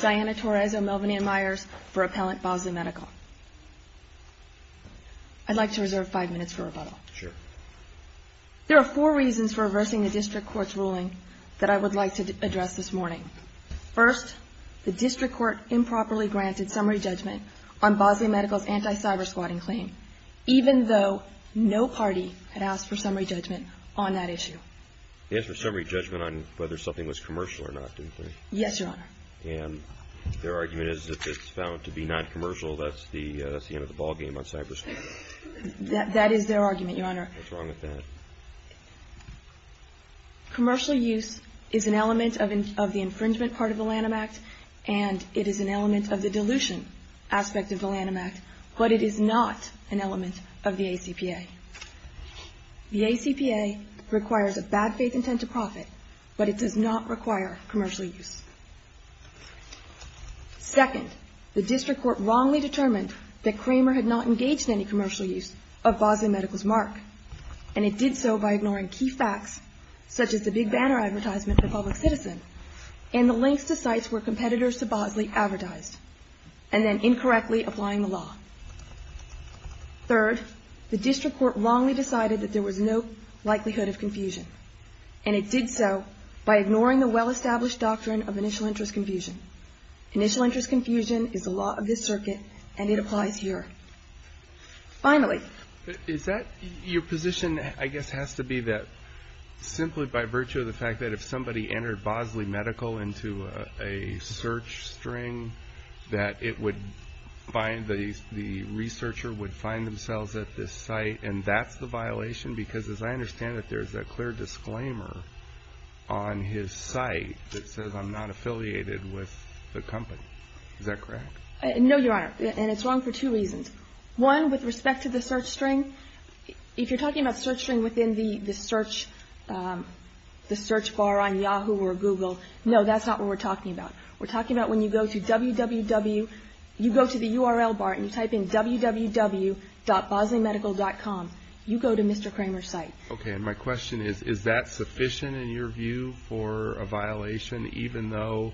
Diana Torres O'Melveny and Meyers for Appellant Bosley Medical I'd like to reserve five minutes for rebuttal. Sure. There are four reasons for reversing the District Court's ruling that I would like to address this morning. First, the District Court improperly granted summary judgment on Bosley Medical's anti-cybersquatting claim, even though no party had asked for summary judgment on that issue. They asked for summary judgment on whether something was commercial or not, didn't they? Yes, Your Honor. And their argument is that if it's found to be not commercial, that's the end of the ballgame on cybersquatting. That is their argument, Your Honor. What's wrong with that? Commercial use is an element of the infringement part of the Lanham Act, and it is an element of the dilution aspect of the Lanham Act, but it is not an element of the ACPA. The ACPA requires a bad faith intent to profit, but it does not require commercial use. Second, the District Court wrongly determined that Kramer had not engaged in any commercial use of Bosley Medical's mark, and it did so by ignoring key facts, such as the big banner advertisement for public citizen and the links to sites where competitors to Bosley advertised, and then incorrectly applying the law. Third, the District Court wrongly decided that there was no likelihood of confusion, and it did so by ignoring the well-established doctrine of initial interest confusion. Initial interest confusion is the law of this circuit, and it applies here. Finally. Is that your position, I guess, has to be that simply by virtue of the fact that if somebody entered Bosley Medical into a search string, that it would find the researcher would find themselves at this site, and that's the violation, because as I understand it, there's a clear disclaimer on his site that says, I'm not affiliated with the company. Is that correct? No, Your Honor, and it's wrong for two reasons. One, with respect to the search string, if you're talking about search string within the search bar on Yahoo or Google, no, that's not what we're talking about. We're talking about when you go to www, you go to the URL bar and you type in www.BosleyMedical.com. You go to Mr. Kramer's site. Okay, and my question is, is that sufficient in your view for a violation, even though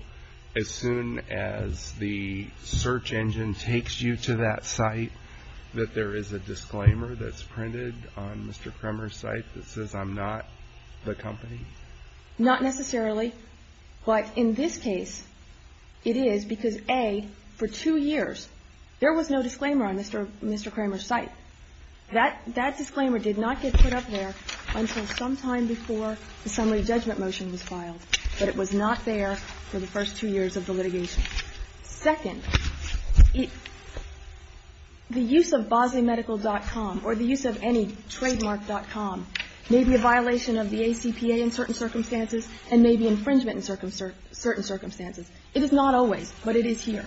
as soon as the search engine takes you to that site, that there is a disclaimer that's printed on Mr. Kramer's site that says, I'm not the company? Not necessarily. But in this case, it is because, A, for two years, there was no disclaimer on Mr. Kramer's site. That disclaimer did not get put up there until sometime before the summary judgment motion was filed. But it was not there for the first two years of the litigation. Second, the use of BosleyMedical.com or the use of any trademark.com may be a violation of the ACPA in certain circumstances and may be infringement in certain circumstances. It is not always, but it is here.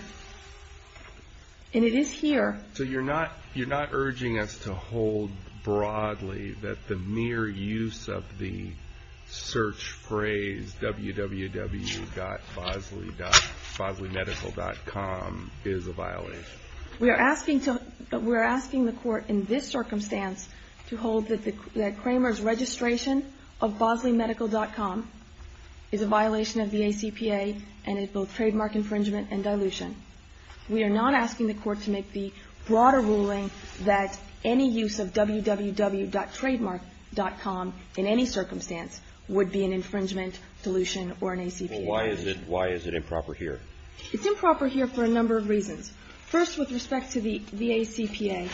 And it is here. So you're not urging us to hold broadly that the mere use of the search phrase www.BosleyMedical.com is a violation? We are asking the Court in this circumstance to hold that Kramer's registration of BosleyMedical.com is a violation of the ACPA and is both trademark infringement and dilution. We are not asking the Court to make the broader ruling that any use of www.trademark.com in any circumstance would be an infringement, dilution, or an ACPA. Well, why is it improper here? It's improper here for a number of reasons. First, with respect to the ACPA,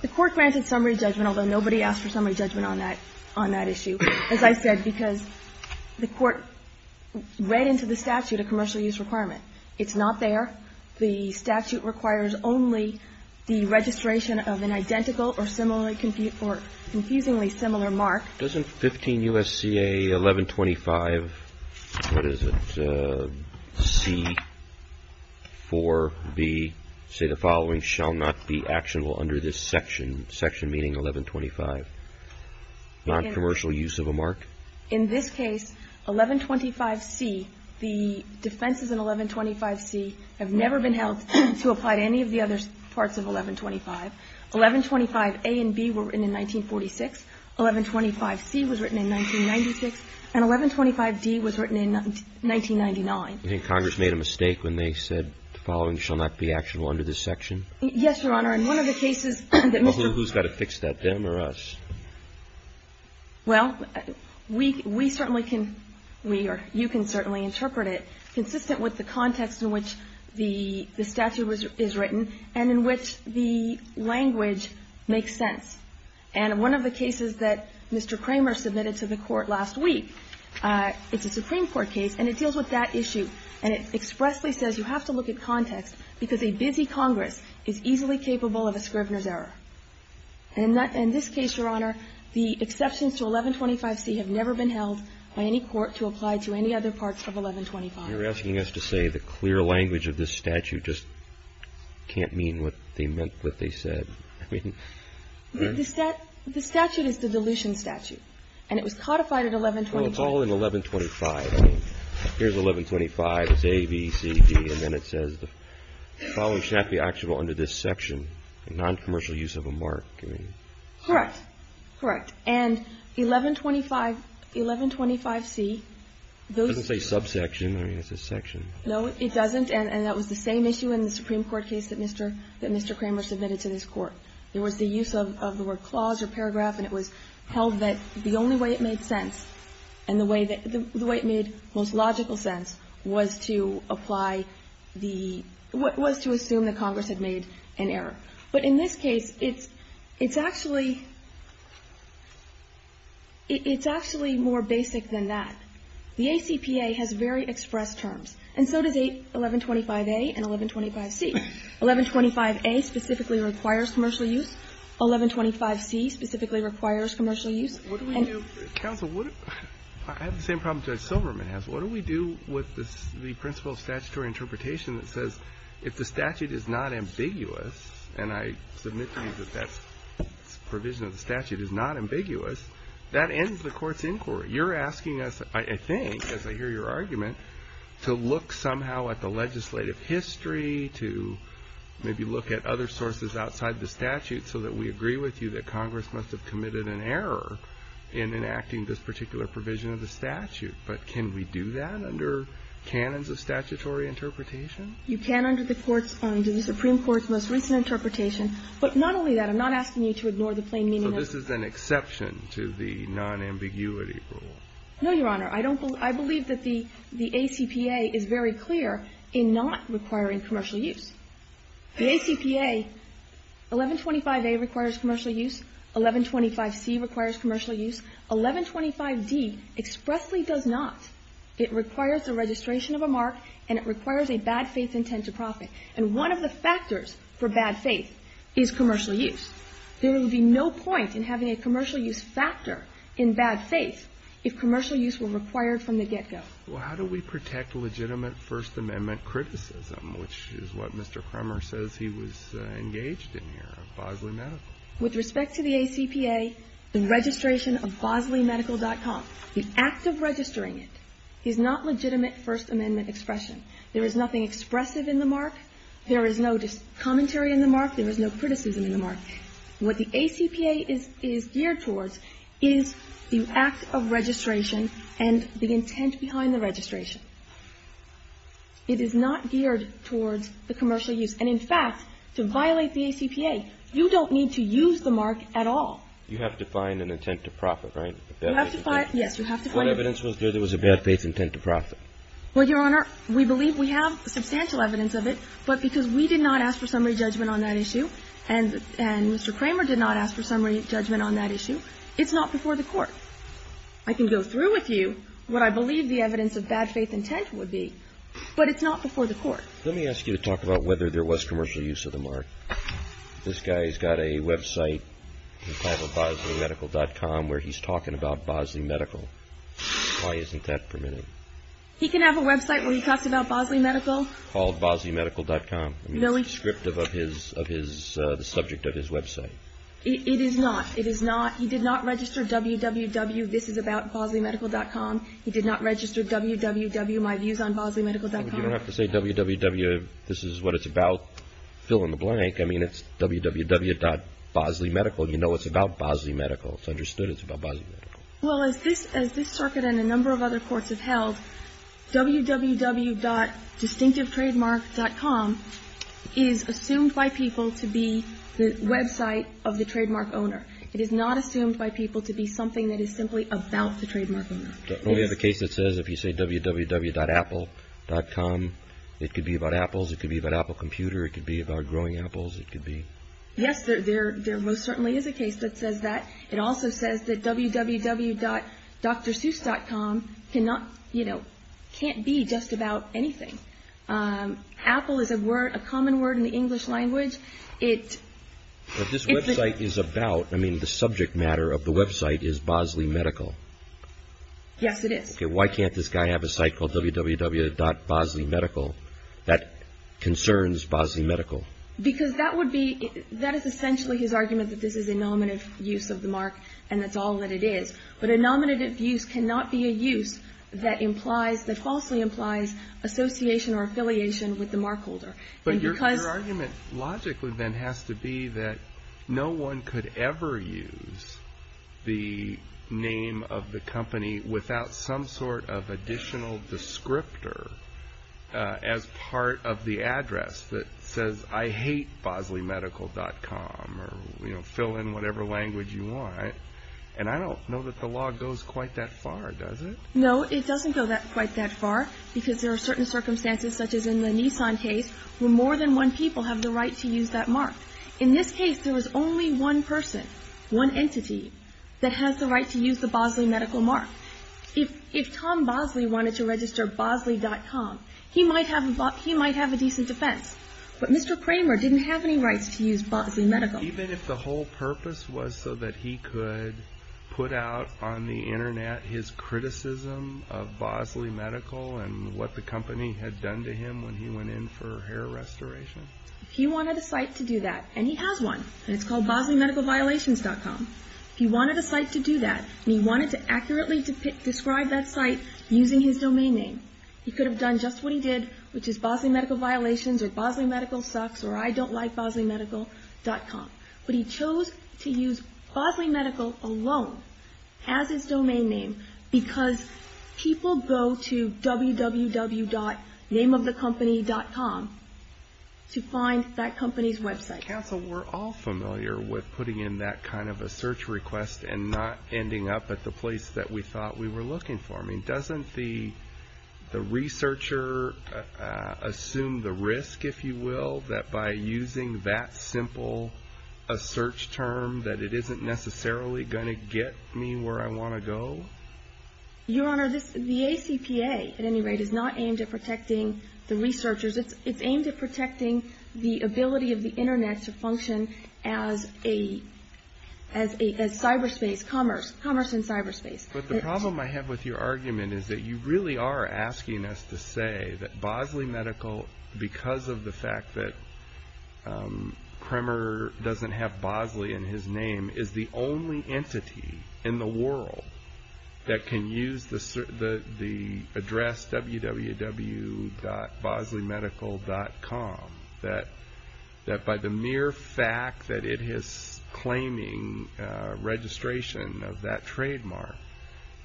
the Court granted summary judgment, although nobody asked for summary judgment on that issue, as I said, because the Court read into the statute a commercial use requirement. It's not there. The statute requires only the registration of an identical or confusingly similar mark. Doesn't 15 U.S.C.A. 1125, what is it, C, 4B, say the following, shall not be actionable under this section, section meaning 1125, noncommercial use of a mark? In this case, 1125C, the defenses in 1125C have never been held to apply to any of the other parts of 1125. 1125A and B were written in 1946. 1125C was written in 1996. And 1125D was written in 1999. You think Congress made a mistake when they said the following shall not be actionable under this section? Yes, Your Honor. In one of the cases that Mr. ---- Well, who's got to fix that, them or us? Well, we certainly can, we or you can certainly interpret it consistent with the context in which the statute is written and in which the language makes sense. And one of the cases that Mr. Kramer submitted to the Court last week, it's a Supreme Court case, and it deals with that issue, and it expressly says you have to look at context because a busy Congress is easily capable of a Scrivener's error. And in this case, Your Honor, the exceptions to 1125C have never been held by any court to apply to any other parts of 1125. You're asking us to say the clear language of this statute just can't mean what they meant, what they said. I mean ---- The statute is the dilution statute, and it was codified at 1125. Well, it's all in 1125. Here's 1125. It's A, B, C, D, and then it says the following shall not be actionable under this section, a noncommercial use of a mark. Correct. Correct. And 1125C, those ---- It doesn't say that. No, it doesn't. And that was the same issue in the Supreme Court case that Mr. ---- that Mr. Kramer submitted to this Court. There was the use of the word clause or paragraph, and it was held that the only way it made sense and the way that ---- the way it made most logical sense was to apply the ---- was to assume that Congress had made an error. But in this case, it's actually ---- it's actually more basic than that. The ACPA has very expressed terms, and so does 1125A and 1125C. 1125A specifically requires commercial use. 1125C specifically requires commercial use. What do we do ---- Counsel, what ---- I have the same problem Judge Silverman has. What do we do with the principle of statutory interpretation that says if the statute is not ambiguous, and I submit to you that that provision of the statute is not ambiguous, that ends the Court's inquiry. You're asking us, I think, as I hear your argument, to look somehow at the legislative history, to maybe look at other sources outside the statute, so that we agree with you that Congress must have committed an error in enacting this particular provision of the statute. But can we do that under canons of statutory interpretation? You can under the Court's ---- the Supreme Court's most recent interpretation. But not only that, I'm not asking you to ignore the plain meaning of ----- No, Your Honor. I don't believe ---- I believe that the ACPA is very clear in not requiring commercial use. The ACPA, 1125A requires commercial use. 1125C requires commercial use. 1125D expressly does not. It requires the registration of a mark, and it requires a bad faith intent to profit. And one of the factors for bad faith is commercial use. There would be no point in having a commercial use factor in bad faith if commercial use were required from the get-go. Well, how do we protect legitimate First Amendment criticism, which is what Mr. Kremmer says he was engaged in here at Bosley Medical? With respect to the ACPA, the registration of bosleymedical.com, the act of registering it is not legitimate First Amendment expression. There is nothing expressive in the mark. There is no commentary in the mark. There is no criticism in the mark. What the ACPA is geared towards is the act of registration and the intent behind the registration. It is not geared towards the commercial use. And, in fact, to violate the ACPA, you don't need to use the mark at all. You have to find an intent to profit, right? You have to find it. Yes, you have to find it. What evidence was there that was a bad faith intent to profit? Well, Your Honor, we believe we have substantial evidence of it, but because we did not ask for summary judgment on that issue, and Mr. Kremmer did not ask for summary judgment on that issue, it's not before the Court. I can go through with you what I believe the evidence of bad faith intent would be, but it's not before the Court. Let me ask you to talk about whether there was commercial use of the mark. This guy has got a website entitled bosleymedical.com where he's talking about Bosley Medical. Why isn't that permitted? He can have a website where he talks about Bosley Medical. Called bosleymedical.com. It's descriptive of the subject of his website. It is not. It is not. He did not register www.thisisaboutbosleymedical.com. He did not register www.myviewsonbosleymedical.com. You don't have to say www.thisiswhatitsabout, fill in the blank. I mean, it's www.bosleymedical. You know it's about Bosley Medical. It's understood it's about Bosley Medical. Well, as this circuit and a number of other courts have held, www.distinctivetrademark.com is assumed by people to be the website of the trademark owner. It is not assumed by people to be something that is simply about the trademark owner. We have a case that says if you say www.apple.com, it could be about apples, it could be about Apple computer, it could be about growing apples, it could be. Yes, there most certainly is a case that says that. It also says that www.drseuss.com cannot, you know, can't be just about anything. Apple is a word, a common word in the English language. This website is about, I mean, the subject matter of the website is Bosley Medical. Yes, it is. Okay, why can't this guy have a site called www.bosleymedical that concerns Bosley Medical? Because that would be, that is essentially his argument that this is a nominative use of the mark and that's all that it is. But a nominative use cannot be a use that falsely implies association or affiliation with the mark holder. But your argument logically then has to be that no one could ever use the name of the company without some sort of additional descriptor as part of the address that says I hate bosleymedical.com or, you know, fill in whatever language you want. And I don't know that the law goes quite that far, does it? No, it doesn't go quite that far because there are certain circumstances such as in the Nissan case where more than one people have the right to use that mark. In this case, there was only one person, one entity that has the right to use the Bosley Medical mark. If Tom Bosley wanted to register bosley.com, he might have a decent defense. But Mr. Kramer didn't have any rights to use Bosley Medical. Even if the whole purpose was so that he could put out on the Internet his criticism of Bosley Medical and what the company had done to him when he went in for hair restoration? If he wanted a site to do that, and he has one, and it's called bosleymedicalviolations.com, if he wanted a site to do that and he wanted to accurately describe that site using his domain name, he could have done just what he did, which is bosleymedicalviolations or bosleymedicalsucks or idontlikebosleymedical.com. But he chose to use Bosley Medical alone as his domain name because people go to www.nameofthecompany.com to find that company's website. Counsel, we're all familiar with putting in that kind of a search request and not ending up at the place that we thought we were looking for. I mean, doesn't the researcher assume the risk, if you will, that by using that simple a search term that it isn't necessarily going to get me where I want to go? Your Honor, the ACPA, at any rate, is not aimed at protecting the researchers. It's aimed at protecting the ability of the Internet to function as cyberspace, commerce, commerce in cyberspace. But the problem I have with your argument is that you really are asking us to say that Bosley Medical, because of the fact that Kremer doesn't have Bosley in his name, is the only entity in the world that can use the address www.bosleymedical.com, that by the mere fact that it is claiming registration of that trademark,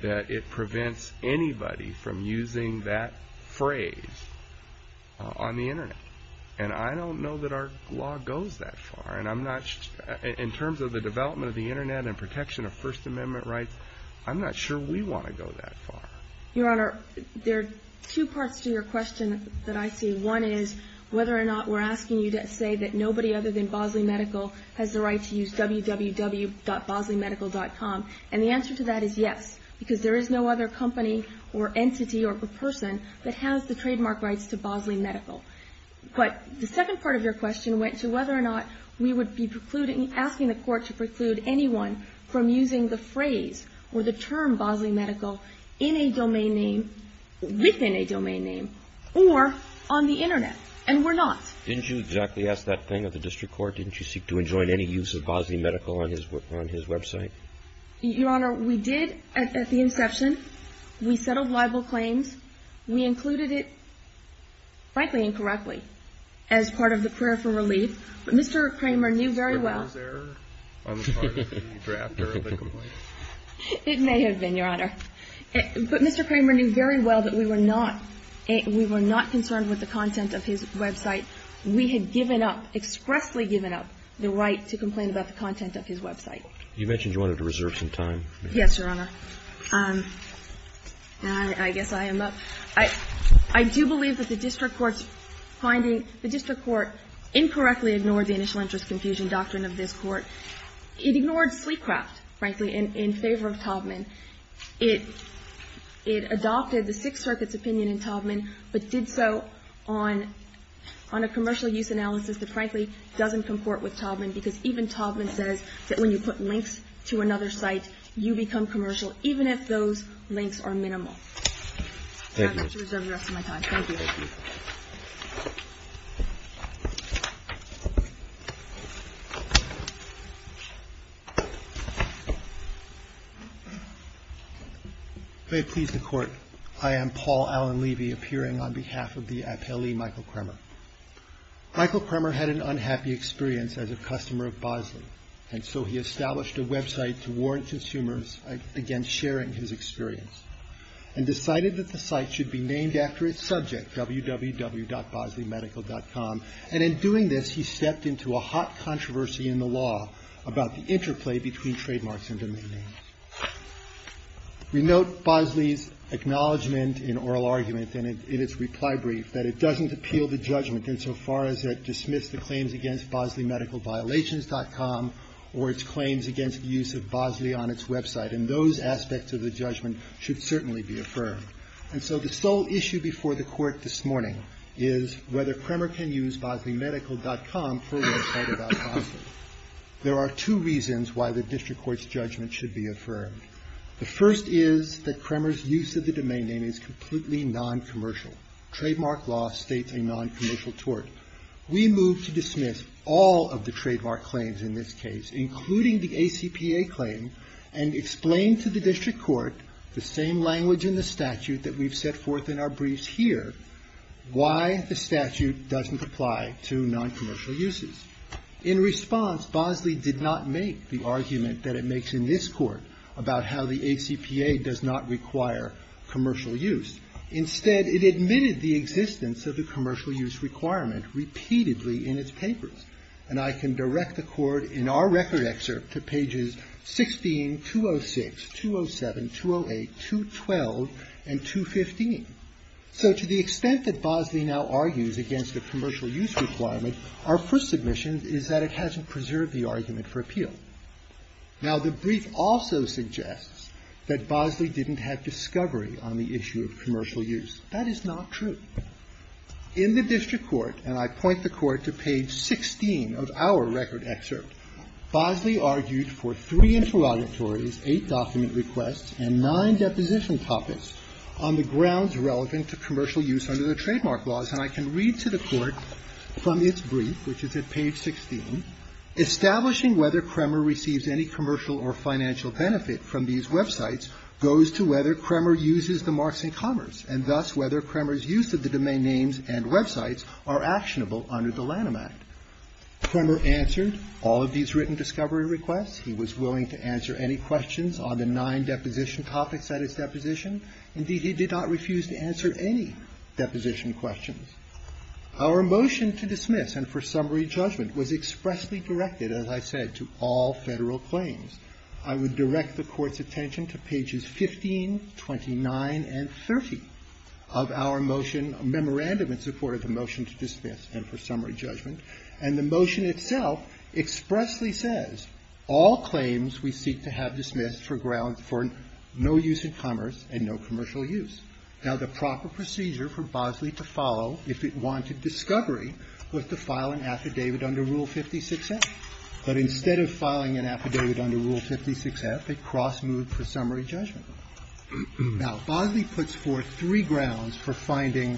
that it prevents anybody from using that phrase on the Internet. And I don't know that our law goes that far. In terms of the development of the Internet and protection of First Amendment rights, I'm not sure we want to go that far. Your Honor, there are two parts to your question that I see. One is whether or not we're asking you to say that nobody other than Bosley Medical has the right to use www.bosleymedical.com. And the answer to that is yes, because there is no other company or entity or person that has the trademark rights to Bosley Medical. But the second part of your question went to whether or not we would be asking the Court to preclude anyone from using the phrase or the term Bosley Medical in a domain name, within a domain name, or on the Internet. And we're not. Didn't you exactly ask that thing at the district court? Didn't you seek to enjoin any use of Bosley Medical on his website? Your Honor, we did at the inception. We settled libel claims. We included it, frankly, incorrectly, as part of the prayer for relief. But Mr. Kramer knew very well. Was there an error on the part of the drafter of the complaint? It may have been, Your Honor. But Mr. Kramer knew very well that we were not concerned with the content of his website. We had given up, expressly given up the right to complain about the content of his website. You mentioned you wanted to reserve some time. Yes, Your Honor. I guess I am up. I do believe that the district court's finding, the district court incorrectly ignored the initial interest confusion doctrine of this Court. It ignored Sleecraft, frankly, in favor of Taubman. It adopted the Sixth Circuit's opinion in Taubman, but did so on a commercial use analysis that, frankly, doesn't comport with Taubman, because even Taubman says that when you put links to another site, you become commercial, even if those links are minimal. Thank you. I'd like to reserve the rest of my time. Thank you. May it please the Court. I am Paul Allen Levy, appearing on behalf of the appellee, Michael Kramer. Michael Kramer had an unhappy experience as a customer of Bosley, and so he established a website to warrant consumers against sharing his experience, and decided that the Bosley medical.com. And in doing this, he stepped into a hot controversy in the law about the interplay between trademarks and domain names. We note Bosley's acknowledgment in oral argument in its reply brief that it doesn't appeal the judgment insofar as it dismisses the claims against bosleymedicalviolations.com or its claims against the use of Bosley on its website. And those aspects of the judgment should certainly be affirmed. And so the sole issue before the Court this morning is whether Kramer can use bosleymedical.com for a website about Bosley. There are two reasons why the district court's judgment should be affirmed. The first is that Kramer's use of the domain name is completely noncommercial. Trademark law states a noncommercial tort. We move to dismiss all of the trademark claims in this case, including the ACPA claim, and explain to the district court the same language in the statute that we've set forth in our briefs here, why the statute doesn't apply to noncommercial uses. In response, Bosley did not make the argument that it makes in this Court about how the ACPA does not require commercial use. Instead, it admitted the existence of the commercial use requirement repeatedly in its papers. And I can direct the Court in our record excerpt to pages 16, 206, 207, 208, 212, and 215. So to the extent that Bosley now argues against the commercial use requirement, our first submission is that it hasn't preserved the argument for appeal. Now, the brief also suggests that Bosley didn't have discovery on the issue of commercial use. That is not true. In the district court, and I point the Court to page 16 of our record excerpt, Bosley argued for three interrogatories, eight document requests, and nine deposition topics on the grounds relevant to commercial use under the trademark laws. And I can read to the Court from its brief, which is at page 16, establishing whether Kremer receives any commercial or financial benefit from these websites goes to whether Kremer uses the marks in commerce, and thus whether Kremer's use of the domain names and websites are actionable under the Lanham Act. Kremer answered all of these written discovery requests. He was willing to answer any questions on the nine deposition topics at his deposition. Indeed, he did not refuse to answer any deposition questions. Our motion to dismiss and for summary judgment was expressly directed, as I said, to all Federal claims. I would direct the Court's attention to pages 15, 29, and 30 of our motion, a memorandum in support of the motion to dismiss and for summary judgment. And the motion itself expressly says all claims we seek to have dismissed for grounds for no use in commerce and no commercial use. Now, the proper procedure for Bosley to follow if it wanted discovery was to file an affidavit under Rule 56a. But instead of filing an affidavit under Rule 56a, it cross-moved for summary judgment. Now, Bosley puts forth three grounds for finding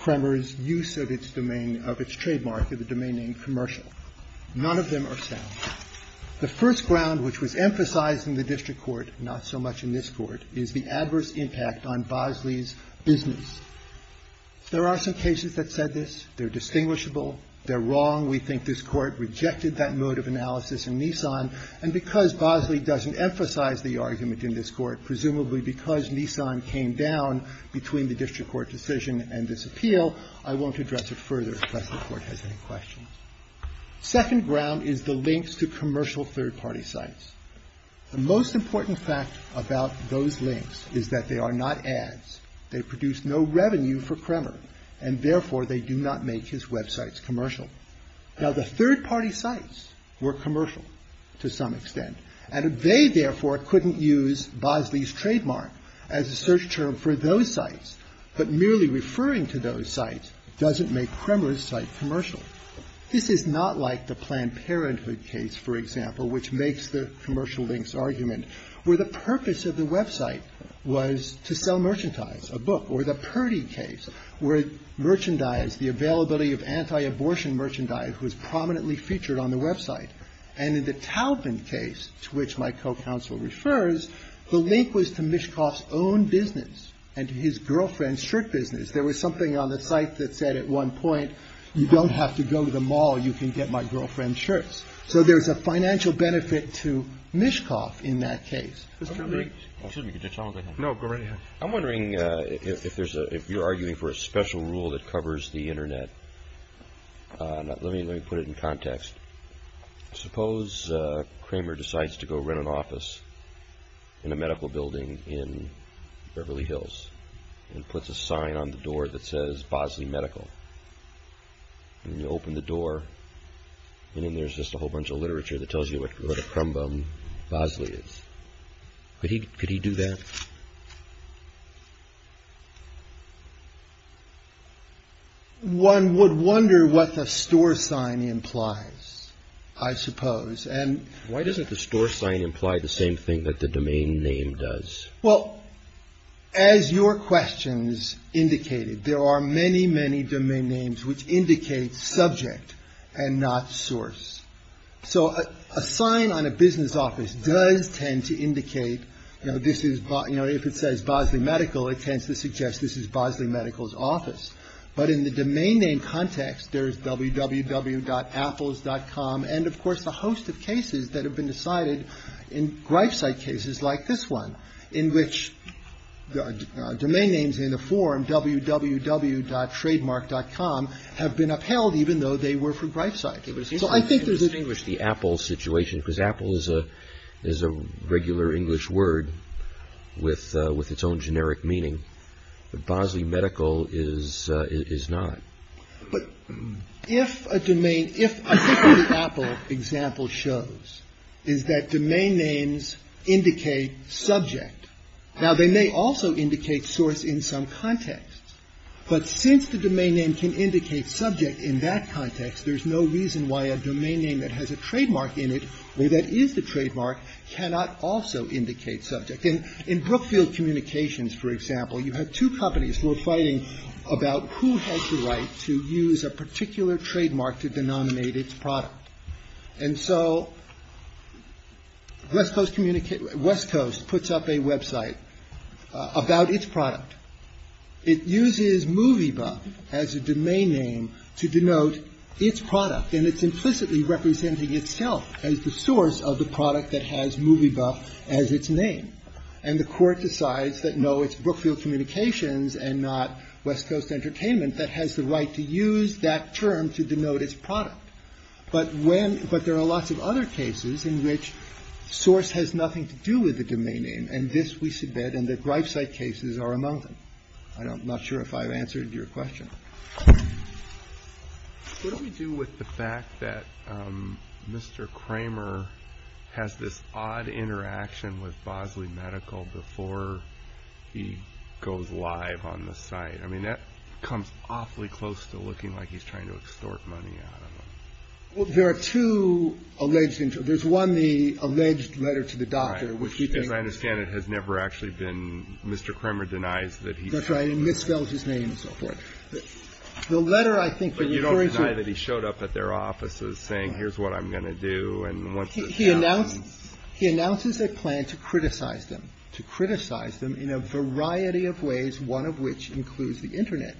Kremer's use of its domain, of its trademark in the domain name commercial. None of them are sound. The first ground, which was emphasized in the district court, not so much in this court, is the adverse impact on Bosley's business. There are some cases that said this. They're distinguishable. They're wrong. We think this Court rejected that mode of analysis in Nissan. And because Bosley doesn't emphasize the argument in this Court, presumably because Nissan came down between the district court decision and this appeal, I won't address it further unless the Court has any questions. Second ground is the links to commercial third-party sites. The most important fact about those links is that they are not ads. They produce no revenue for Kremer. And therefore, they do not make his websites commercial. Now, the third-party sites were commercial to some extent. And they, therefore, couldn't use Bosley's trademark as a search term for those sites. But merely referring to those sites doesn't make Kremer's site commercial. This is not like the Planned Parenthood case, for example, which makes the commercial links argument where the purpose of the website was to sell merchandise, a book. Or the Purdy case where merchandise, the availability of anti-abortion merchandise was prominently featured on the website. And in the Taubman case, to which my co-counsel refers, the link was to Mishkoff's own business and to his girlfriend's shirt business. There was something on the site that said at one point, you don't have to go to the mall. You can get my girlfriend's shirts. So there's a financial benefit to Mishkoff in that case. No, go right ahead. I'm wondering if you're arguing for a special rule that covers the Internet. Let me put it in context. Suppose Kramer decides to go rent an office in a medical building in Beverly Hills and puts a sign on the door that says Bosley Medical. And you open the door, and in there's just a whole bunch of literature that could he could he do that? One would wonder what the store sign implies, I suppose. And why doesn't the store sign imply the same thing that the domain name does? Well, as your questions indicated, there are many, many domain names which indicate subject and not source. So a sign on a business office does tend to indicate, you know, this is, you know, if it says Bosley Medical, it tends to suggest this is Bosley Medical's office. But in the domain name context, there's www.apples.com. And, of course, a host of cases that have been decided in gripe site cases like this one, in which domain names in the form www.trademark.com have been upheld even though they were for gripe site. So I think there's an English, the apple situation, because apple is a regular English word with its own generic meaning. But Bosley Medical is not. But if a domain, if essentially Apple example shows is that domain names indicate subject, now they may also indicate source in some context. But since the domain name can indicate subject in that context, there's no reason why a domain name that has a trademark in it or that is the trademark cannot also indicate subject. In Brookfield Communications, for example, you have two companies who are fighting about who has the right to use a particular trademark to denominate its product. And so West Coast communicates, West Coast puts up a website about its product. It uses movie buff as a domain name to denote its product. And it's implicitly representing itself as the source of the product that has movie buff as its name. And the Court decides that, no, it's Brookfield Communications and not West Coast Entertainment that has the right to use that term to denote its product. But when, but there are lots of other cases in which source has nothing to do with the domain name. And this we submit, and the Grifesite cases are among them. I'm not sure if I've answered your question. Q What do we do with the fact that Mr. Kramer has this odd interaction with Bosley Medical before he goes live on the site? I mean, that comes awfully close to looking like he's trying to extort money out of There are two alleged, there's one, the alleged letter to the doctor which he thinks As I understand it has never actually been, Mr. Kramer denies that he That's right, he misspelled his name and so forth. The letter I think But you don't deny that he showed up at their offices saying here's what I'm going to do and He announces a plan to criticize them, to criticize them in a variety of ways, one of which includes the internet,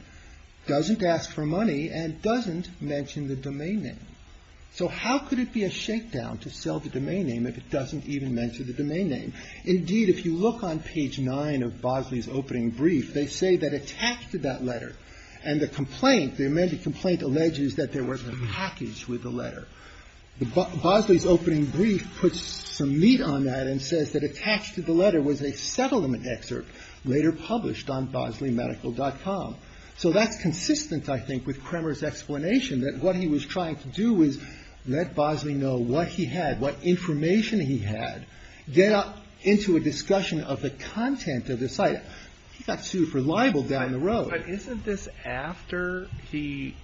doesn't ask for money, and doesn't mention the domain name. So how could it be a shakedown to sell the domain name if it doesn't even mention the domain name? Indeed, if you look on page 9 of Bosley's opening brief, they say that attached to that letter and the complaint, the amended complaint alleges that there was a package with the letter. Bosley's opening brief puts some meat on that and says that attached to the letter was a So that's consistent I think with Kramer's explanation that what he was trying to do was let Bosley know what he had, what information he had, get up into a discussion of the content of the site. He got sued for libel down the road. But isn't this after he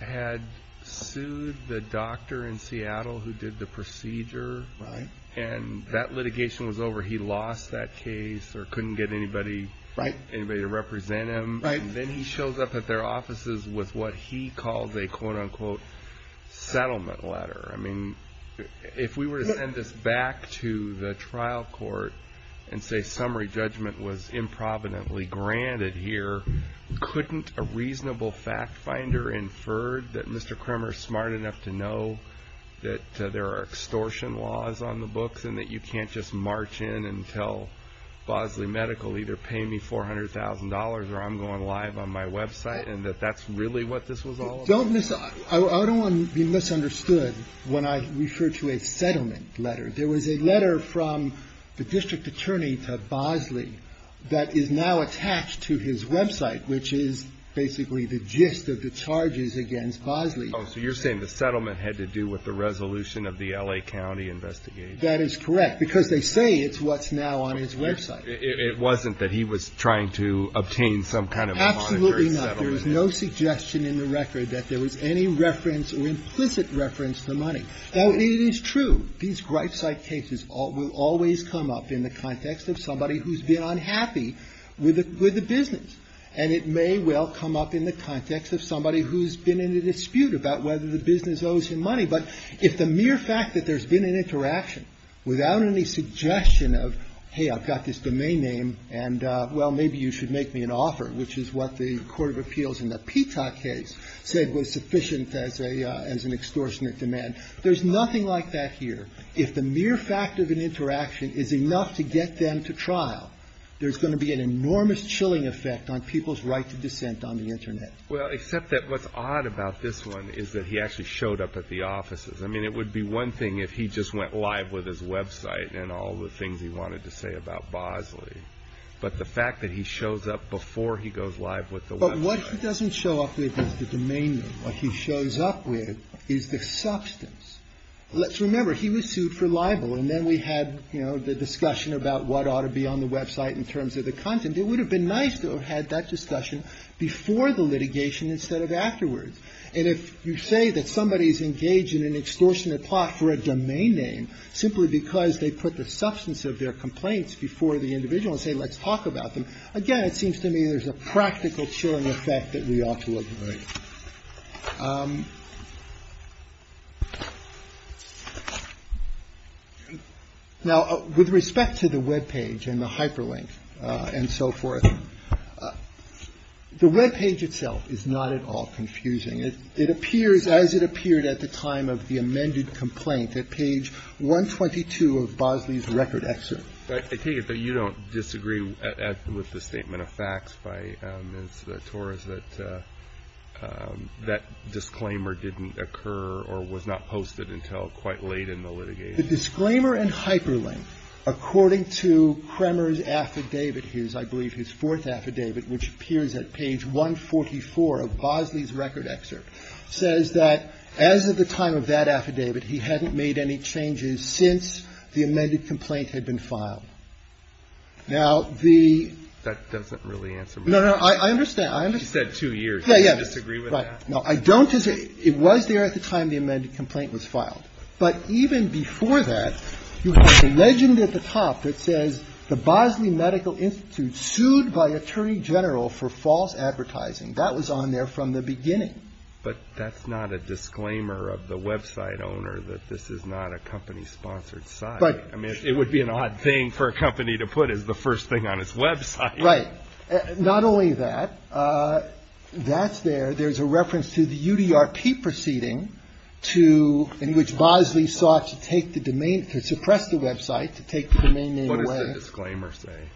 had sued the doctor in Seattle who did the procedure? Right. And that litigation was over. He lost that case or couldn't get anybody to represent him. And then he shows up at their offices with what he calls a quote-unquote settlement letter. I mean, if we were to send this back to the trial court and say summary judgment was improvidently granted here, couldn't a reasonable fact finder infer that Mr. Kramer is smart enough to know that there are extortion laws on the books and that you can't just march in and tell Bosley Medical either pay me $400,000 or I'm going live on my website and that that's really what this was all about? I don't want to be misunderstood when I refer to a settlement letter. There was a letter from the district attorney to Bosley that is now attached to his website, which is basically the gist of the charges against Bosley. So you're saying the settlement had to do with the resolution of the L.A. County investigation. That is correct, because they say it's what's now on his website. It wasn't that he was trying to obtain some kind of monetary settlement. Absolutely not. There was no suggestion in the record that there was any reference or implicit reference to the money. Now, it is true. These gripe site cases will always come up in the context of somebody who's been unhappy with the business. And it may well come up in the context of somebody who's been in a dispute about whether the business owes him money. But if the mere fact that there's been an interaction without any suggestion of, hey, I've got this domain name and, well, maybe you should make me an offer, which is what the court of appeals in the Petah case said was sufficient as an extortionate demand. There's nothing like that here. If the mere fact of an interaction is enough to get them to trial, there's going to be an enormous chilling effect on people's right to dissent on the Internet. Well, except that what's odd about this one is that he actually showed up at the offices. I mean, it would be one thing if he just went live with his website and all the things he wanted to say about Bosley. But the fact that he shows up before he goes live with the website. But what he doesn't show up with is the domain name. What he shows up with is the substance. Let's remember, he was sued for libel. And then we had, you know, the discussion about what ought to be on the website in terms of the content. It would have been nice to have had that discussion before the litigation instead of afterwards. And if you say that somebody is engaged in an extortionate plot for a domain name simply because they put the substance of their complaints before the individual and say let's talk about them, again, it seems to me there's a practical chilling effect that we ought to avoid. Now, with respect to the webpage and the hyperlink and so forth, the webpage itself is not at all confusing. It appears as it appeared at the time of the amended complaint at page 122 of Bosley's record excerpt. I take it that you don't disagree with the statement of facts by Ms. Torres that that disclaimer didn't occur or was not posted until quite late in the litigation. The disclaimer and hyperlink, according to Kremer's affidavit, his, I believe his fourth affidavit, which appears at page 144 of Bosley's record excerpt, says that as of the time of that affidavit, he hadn't made any changes since the amended complaint had been filed. Now, the ‑‑ That doesn't really answer my question. No, no, I understand. She said two years. Yeah, yeah. Do you disagree with that? No, I don't disagree. It was there at the time the amended complaint was filed. But even before that, you have a legend at the top that says the Bosley Medical Institute sued by Attorney General for false advertising. That was on there from the beginning. But that's not a disclaimer of the website owner that this is not a company‑sponsored site. I mean, it would be an odd thing for a company to put as the first thing on its website. Right. Not only that, that's there. There's a reference to the UDRP proceeding to ‑‑ in which Bosley sought to take the domain, to suppress the website, to take the domain name away. What does the disclaimer say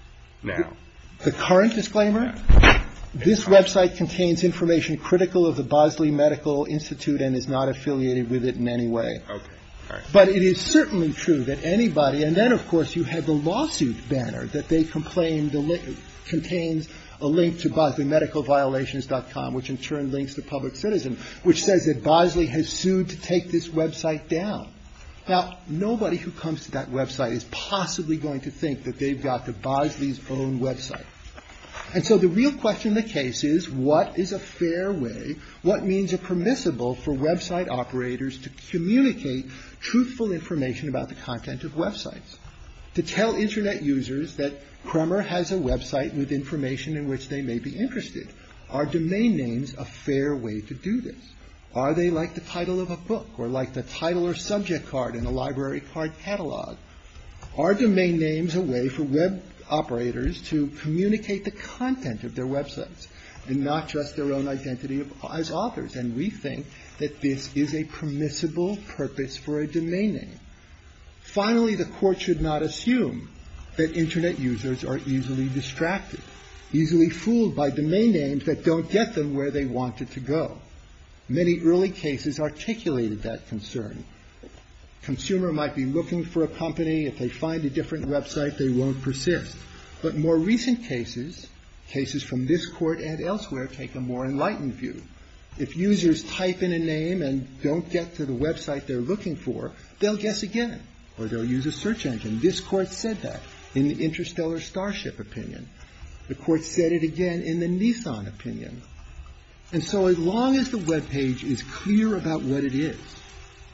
now? The current disclaimer? This website contains information critical of the Bosley Medical Institute and is not affiliated with it in any way. Okay. All right. But it is certainly true that anybody ‑‑ and then, of course, you have the lawsuit banner that they complained contains a link to Bosleymedicalviolations.com, which in turn links to Public Citizen, which says that Bosley has sued to take this website down. Now, nobody who comes to that website is possibly going to think that they've got the Bosley's own website. And so the real question in the case is, what is a fair way, what means are permissible for website operators to communicate truthful information about the content of websites? To tell Internet users that Kremer has a website with information in which they may be interested. Are domain names a fair way to do this? Are they like the title of a book or like the title or subject card in a library card catalog? Are domain names a way for web operators to communicate the content of their websites and not just their own identity as authors? And we think that this is a permissible purpose for a domain name. Finally, the court should not assume that Internet users are easily distracted, easily fooled by domain names that don't get them where they want it to go. Many early cases articulated that concern. Consumer might be looking for a company. If they find a different website, they won't persist. But more recent cases, cases from this Court and elsewhere, take a more enlightened view. If users type in a name and don't get to the website they're looking for, they'll guess again or they'll use a search engine. This Court said that in the Interstellar Starship opinion. The Court said it again in the Nissan opinion. And so as long as the webpage is clear about what it is,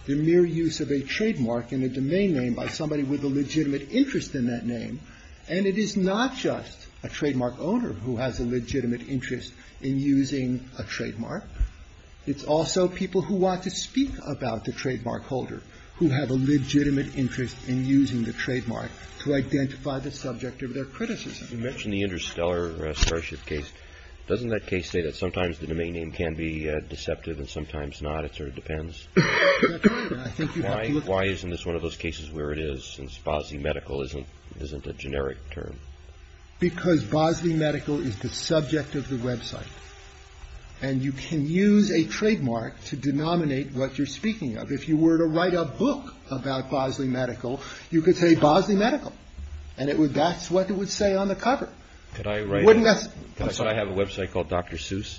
the mere use of a trademark and a domain name by somebody with a legitimate interest in that name. And it is not just a trademark owner who has a legitimate interest in using a trademark. It's also people who want to speak about the trademark holder who have a legitimate interest in using the trademark to identify the subject of their criticism. You mentioned the Interstellar Starship case. Doesn't that case say that sometimes the domain name can be deceptive and sometimes not? It sort of depends. Why isn't this one of those cases where it is since Bosley Medical isn't a generic term? Because Bosley Medical is the subject of the website. And you can use a trademark to denominate what you're speaking of. If you were to write a book about Bosley Medical, you could say Bosley Medical. And it would. That's what it would say on the cover. Could I write. Wouldn't that. So I have a website called Dr. Seuss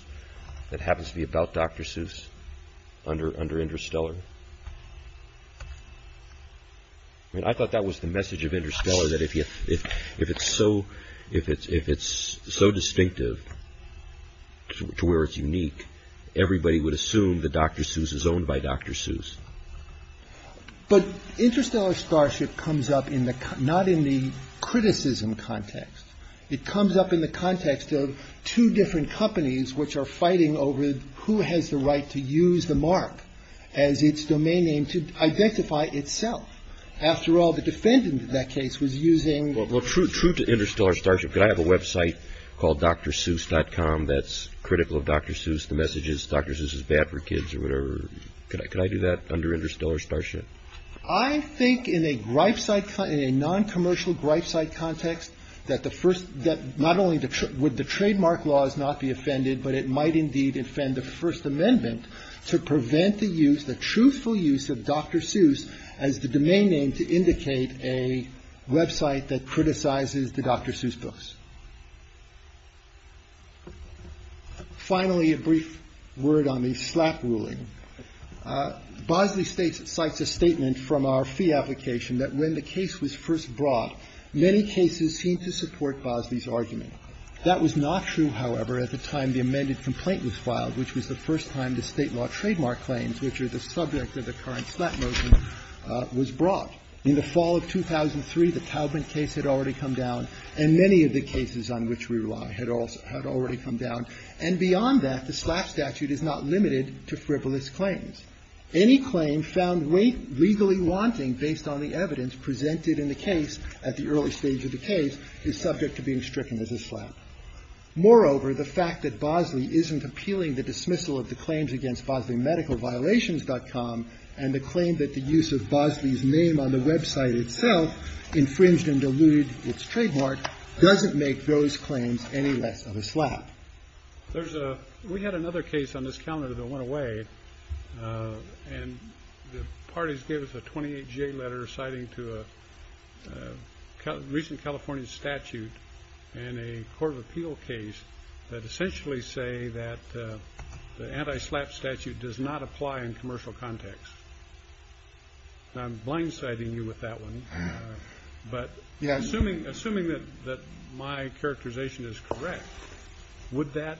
that happens to be about Dr. Seuss under under Interstellar. I thought that was the message of Interstellar that if you if if it's so if it's if it's so distinctive to where it's unique, everybody would assume that Dr. Seuss is owned by Dr. Seuss. But Interstellar Starship comes up in the not in the criticism context. It comes up in the context of two different companies which are fighting over who has the right to use the mark as its domain name to identify itself. After all, the defendant in that case was using. Well, true, true to Interstellar Starship. I have a website called Dr. Seuss dot com. That's critical of Dr. Seuss. The message is Dr. Seuss is bad for kids or whatever. Could I could I do that under Interstellar Starship? I think in a gripe site, a non-commercial gripe site context that the first that not only would the trademark laws not be offended, but it might indeed offend the First Amendment to prevent the use, the truthful use of Dr. Seuss as the domain name to indicate a website that criticizes the Dr. Seuss books. Finally, a brief word on the slap ruling. Bosley states it cites a statement from our fee application that when the case was first brought, many cases seem to support Bosley's argument. That was not true, however, at the time the amended complaint was filed, which was the first time the state law trademark claims, which are the subject of the current slap motion, was brought. In the fall of 2003, the Taubman case had already come down, and many of the cases on which we rely had already come down. And beyond that, the slap statute is not limited to frivolous claims. Any claim found legally wanting based on the evidence presented in the case at the early stage of the case is subject to being stricken as a slap. Moreover, the fact that Bosley isn't appealing the dismissal of the claims against Bosley Medical Violations dot com and the claim that the use of Bosley's name on the website itself infringed and diluted its trademark doesn't make those claims any less of a slap. There's a we had another case on this calendar that went away. And the parties gave us a 28 letter citing to a recent California statute and a court of appeal case that essentially say that the anti-slap statute does not apply in commercial context. I'm blindsiding you with that one. But assuming assuming that my characterization is correct, would that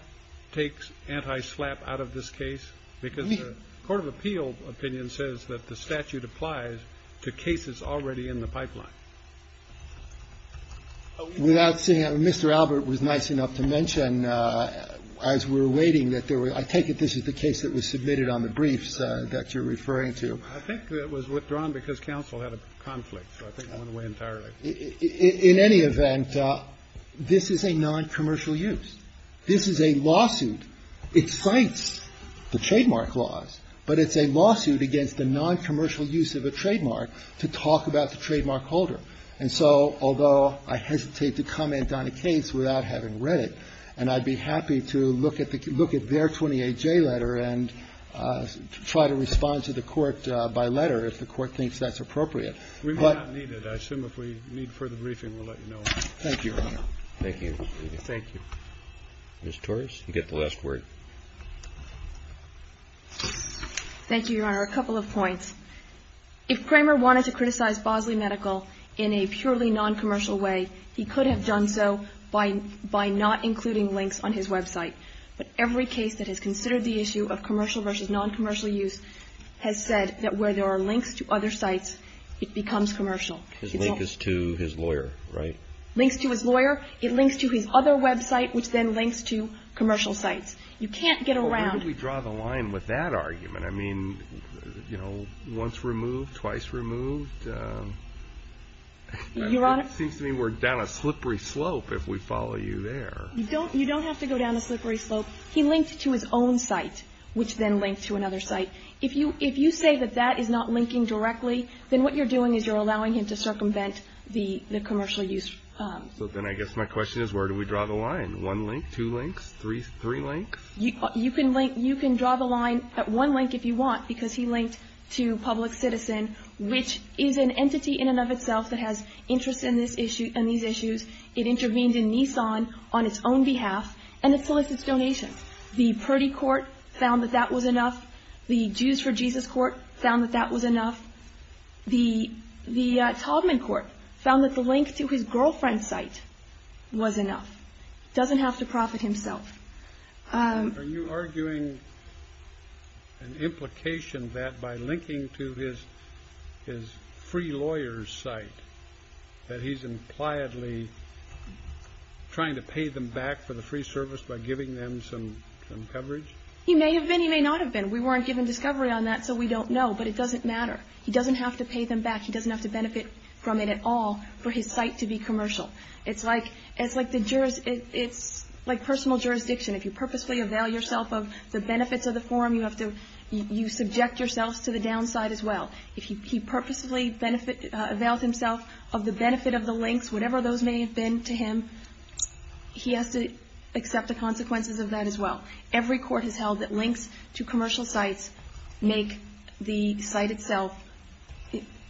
take anti-slap out of this case? Because the court of appeal opinion says that the statute applies to cases already in the pipeline. Without saying that, Mr. Albert was nice enough to mention as we were waiting that there were I take it this is the case that was submitted on the briefs that you're referring to. I think it was withdrawn because counsel had a conflict, so I think it went away entirely. In any event, this is a noncommercial use. This is a lawsuit. It cites the trademark laws, but it's a lawsuit against the noncommercial use of a trademark to talk about the trademark holder. And so although I hesitate to comment on a case without having read it, and I'd be happy to look at the look at their 28 J letter and try to respond to the court by letter if the court thinks that's appropriate. We might need it. I assume if we need further briefing, we'll let you know. Thank you, Your Honor. Thank you. Thank you. Ms. Torres, you get the last word. Thank you, Your Honor. A couple of points. If Kramer wanted to criticize Bosley Medical in a purely noncommercial way, he could have done so by not including links on his website. But every case that has considered the issue of commercial versus noncommercial use has said that where there are links to other sites, it becomes commercial. His link is to his lawyer, right? Links to his lawyer. It links to his other website, which then links to commercial sites. You can't get around. Well, where do we draw the line with that argument? I mean, you know, once removed, twice removed. Your Honor. It seems to me we're down a slippery slope if we follow you there. You don't have to go down a slippery slope. He linked to his own site, which then linked to another site. If you say that that is not linking directly, then what you're doing is you're allowing him to circumvent the commercial use. So then I guess my question is where do we draw the line? One link? Two links? Three links? You can draw the line at one link if you want, because he linked to Public Citizen, which is an entity in and of itself that has interest in these issues. It intervened in Nissan on its own behalf, and it solicits donations. The Purdy Court found that that was enough. The Jews for Jesus Court found that that was enough. The Taubman Court found that the link to his girlfriend's site was enough. Doesn't have to profit himself. Are you arguing an implication that by linking to his free lawyer's site that he's impliedly trying to pay them back for the free service by giving them some coverage? He may have been. He may not have been. We weren't given discovery on that, so we don't know. But it doesn't matter. He doesn't have to pay them back. He doesn't have to benefit from it at all for his site to be commercial. It's like the jurors – it's like personal jurisdiction. If you purposefully avail yourself of the benefits of the forum, you have to – you subject yourselves to the downside as well. If he purposefully availed himself of the benefit of the links, whatever those may have been to him, he has to accept the consequences of that as well. Every court has held that links to commercial sites make the site itself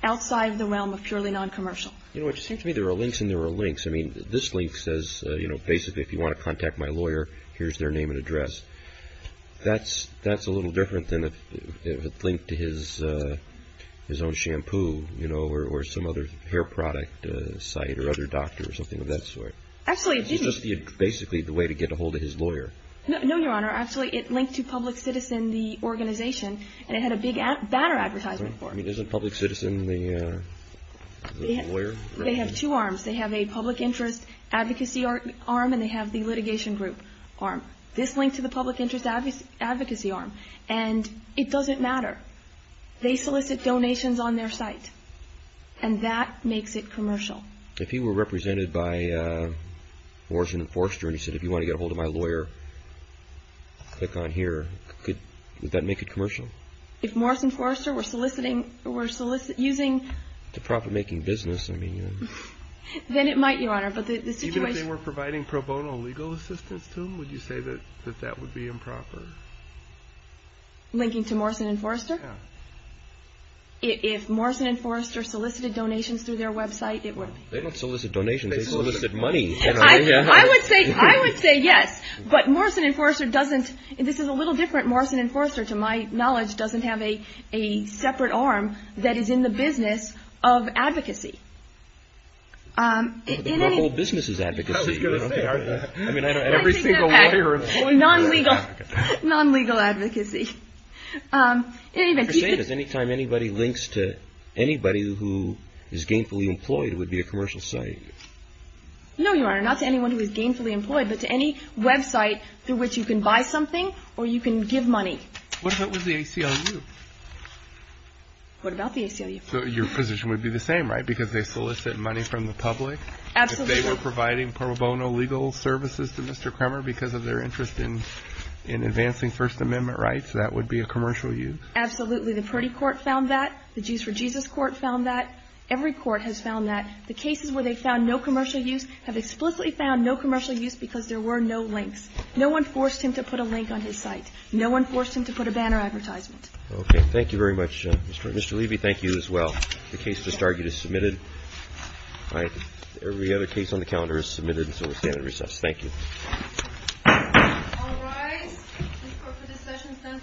outside the realm of purely noncommercial. You know, it just seems to me there are links and there are links. I mean, this link says, you know, basically, if you want to contact my lawyer, here's their name and address. That's a little different than if it linked to his own shampoo, you know, or some other hair product site or other doctor or something of that sort. Actually, it didn't. It's just basically the way to get a hold of his lawyer. No, Your Honor. Actually, it linked to Public Citizen, the organization, and it had a big banner advertisement for it. I mean, isn't Public Citizen the lawyer? They have two arms. They have a public interest advocacy arm and they have the litigation group arm. This linked to the public interest advocacy arm, and it doesn't matter. They solicit donations on their site, and that makes it commercial. If he were represented by Morrison and Forrester and he said, if you want to get a hold of my lawyer, click on here, would that make it commercial? No. If Morrison and Forrester were soliciting or were using... To profit-making business, I mean... Then it might, Your Honor, but the situation... Even if they were providing pro bono legal assistance to him, would you say that that would be improper? Linking to Morrison and Forrester? Yeah. If Morrison and Forrester solicited donations through their website, it would... They don't solicit donations. They solicit money. I would say yes, but Morrison and Forrester doesn't... This is a little different. Morrison and Forrester, to my knowledge, doesn't have a separate arm that is in the business of advocacy. The whole business is advocacy. I was going to say. Every single lawyer... Non-legal advocacy. You're saying that anytime anybody links to anybody who is gainfully employed, it would be a commercial site. No, Your Honor, not to anyone who is gainfully employed, but to any website through which you can buy something or you can give money. What about with the ACLU? What about the ACLU? Your position would be the same, right? Because they solicit money from the public? Absolutely. If they were providing pro bono legal services to Mr. Kremmer because of their interest in advancing First Amendment rights, that would be a commercial use? Absolutely. The Purdy Court found that. The Jews for Jesus Court found that. Every court has found that. The cases where they found no commercial use have explicitly found no commercial use because there were no links. No one forced him to put a link on his site. No one forced him to put a banner advertisement. Okay. Thank you very much. Mr. Levy, thank you as well. The case to start is submitted. All right. Every other case on the calendar is submitted. So we'll stand at recess. Thank you. All rise. This Court for discussion stands adjourned.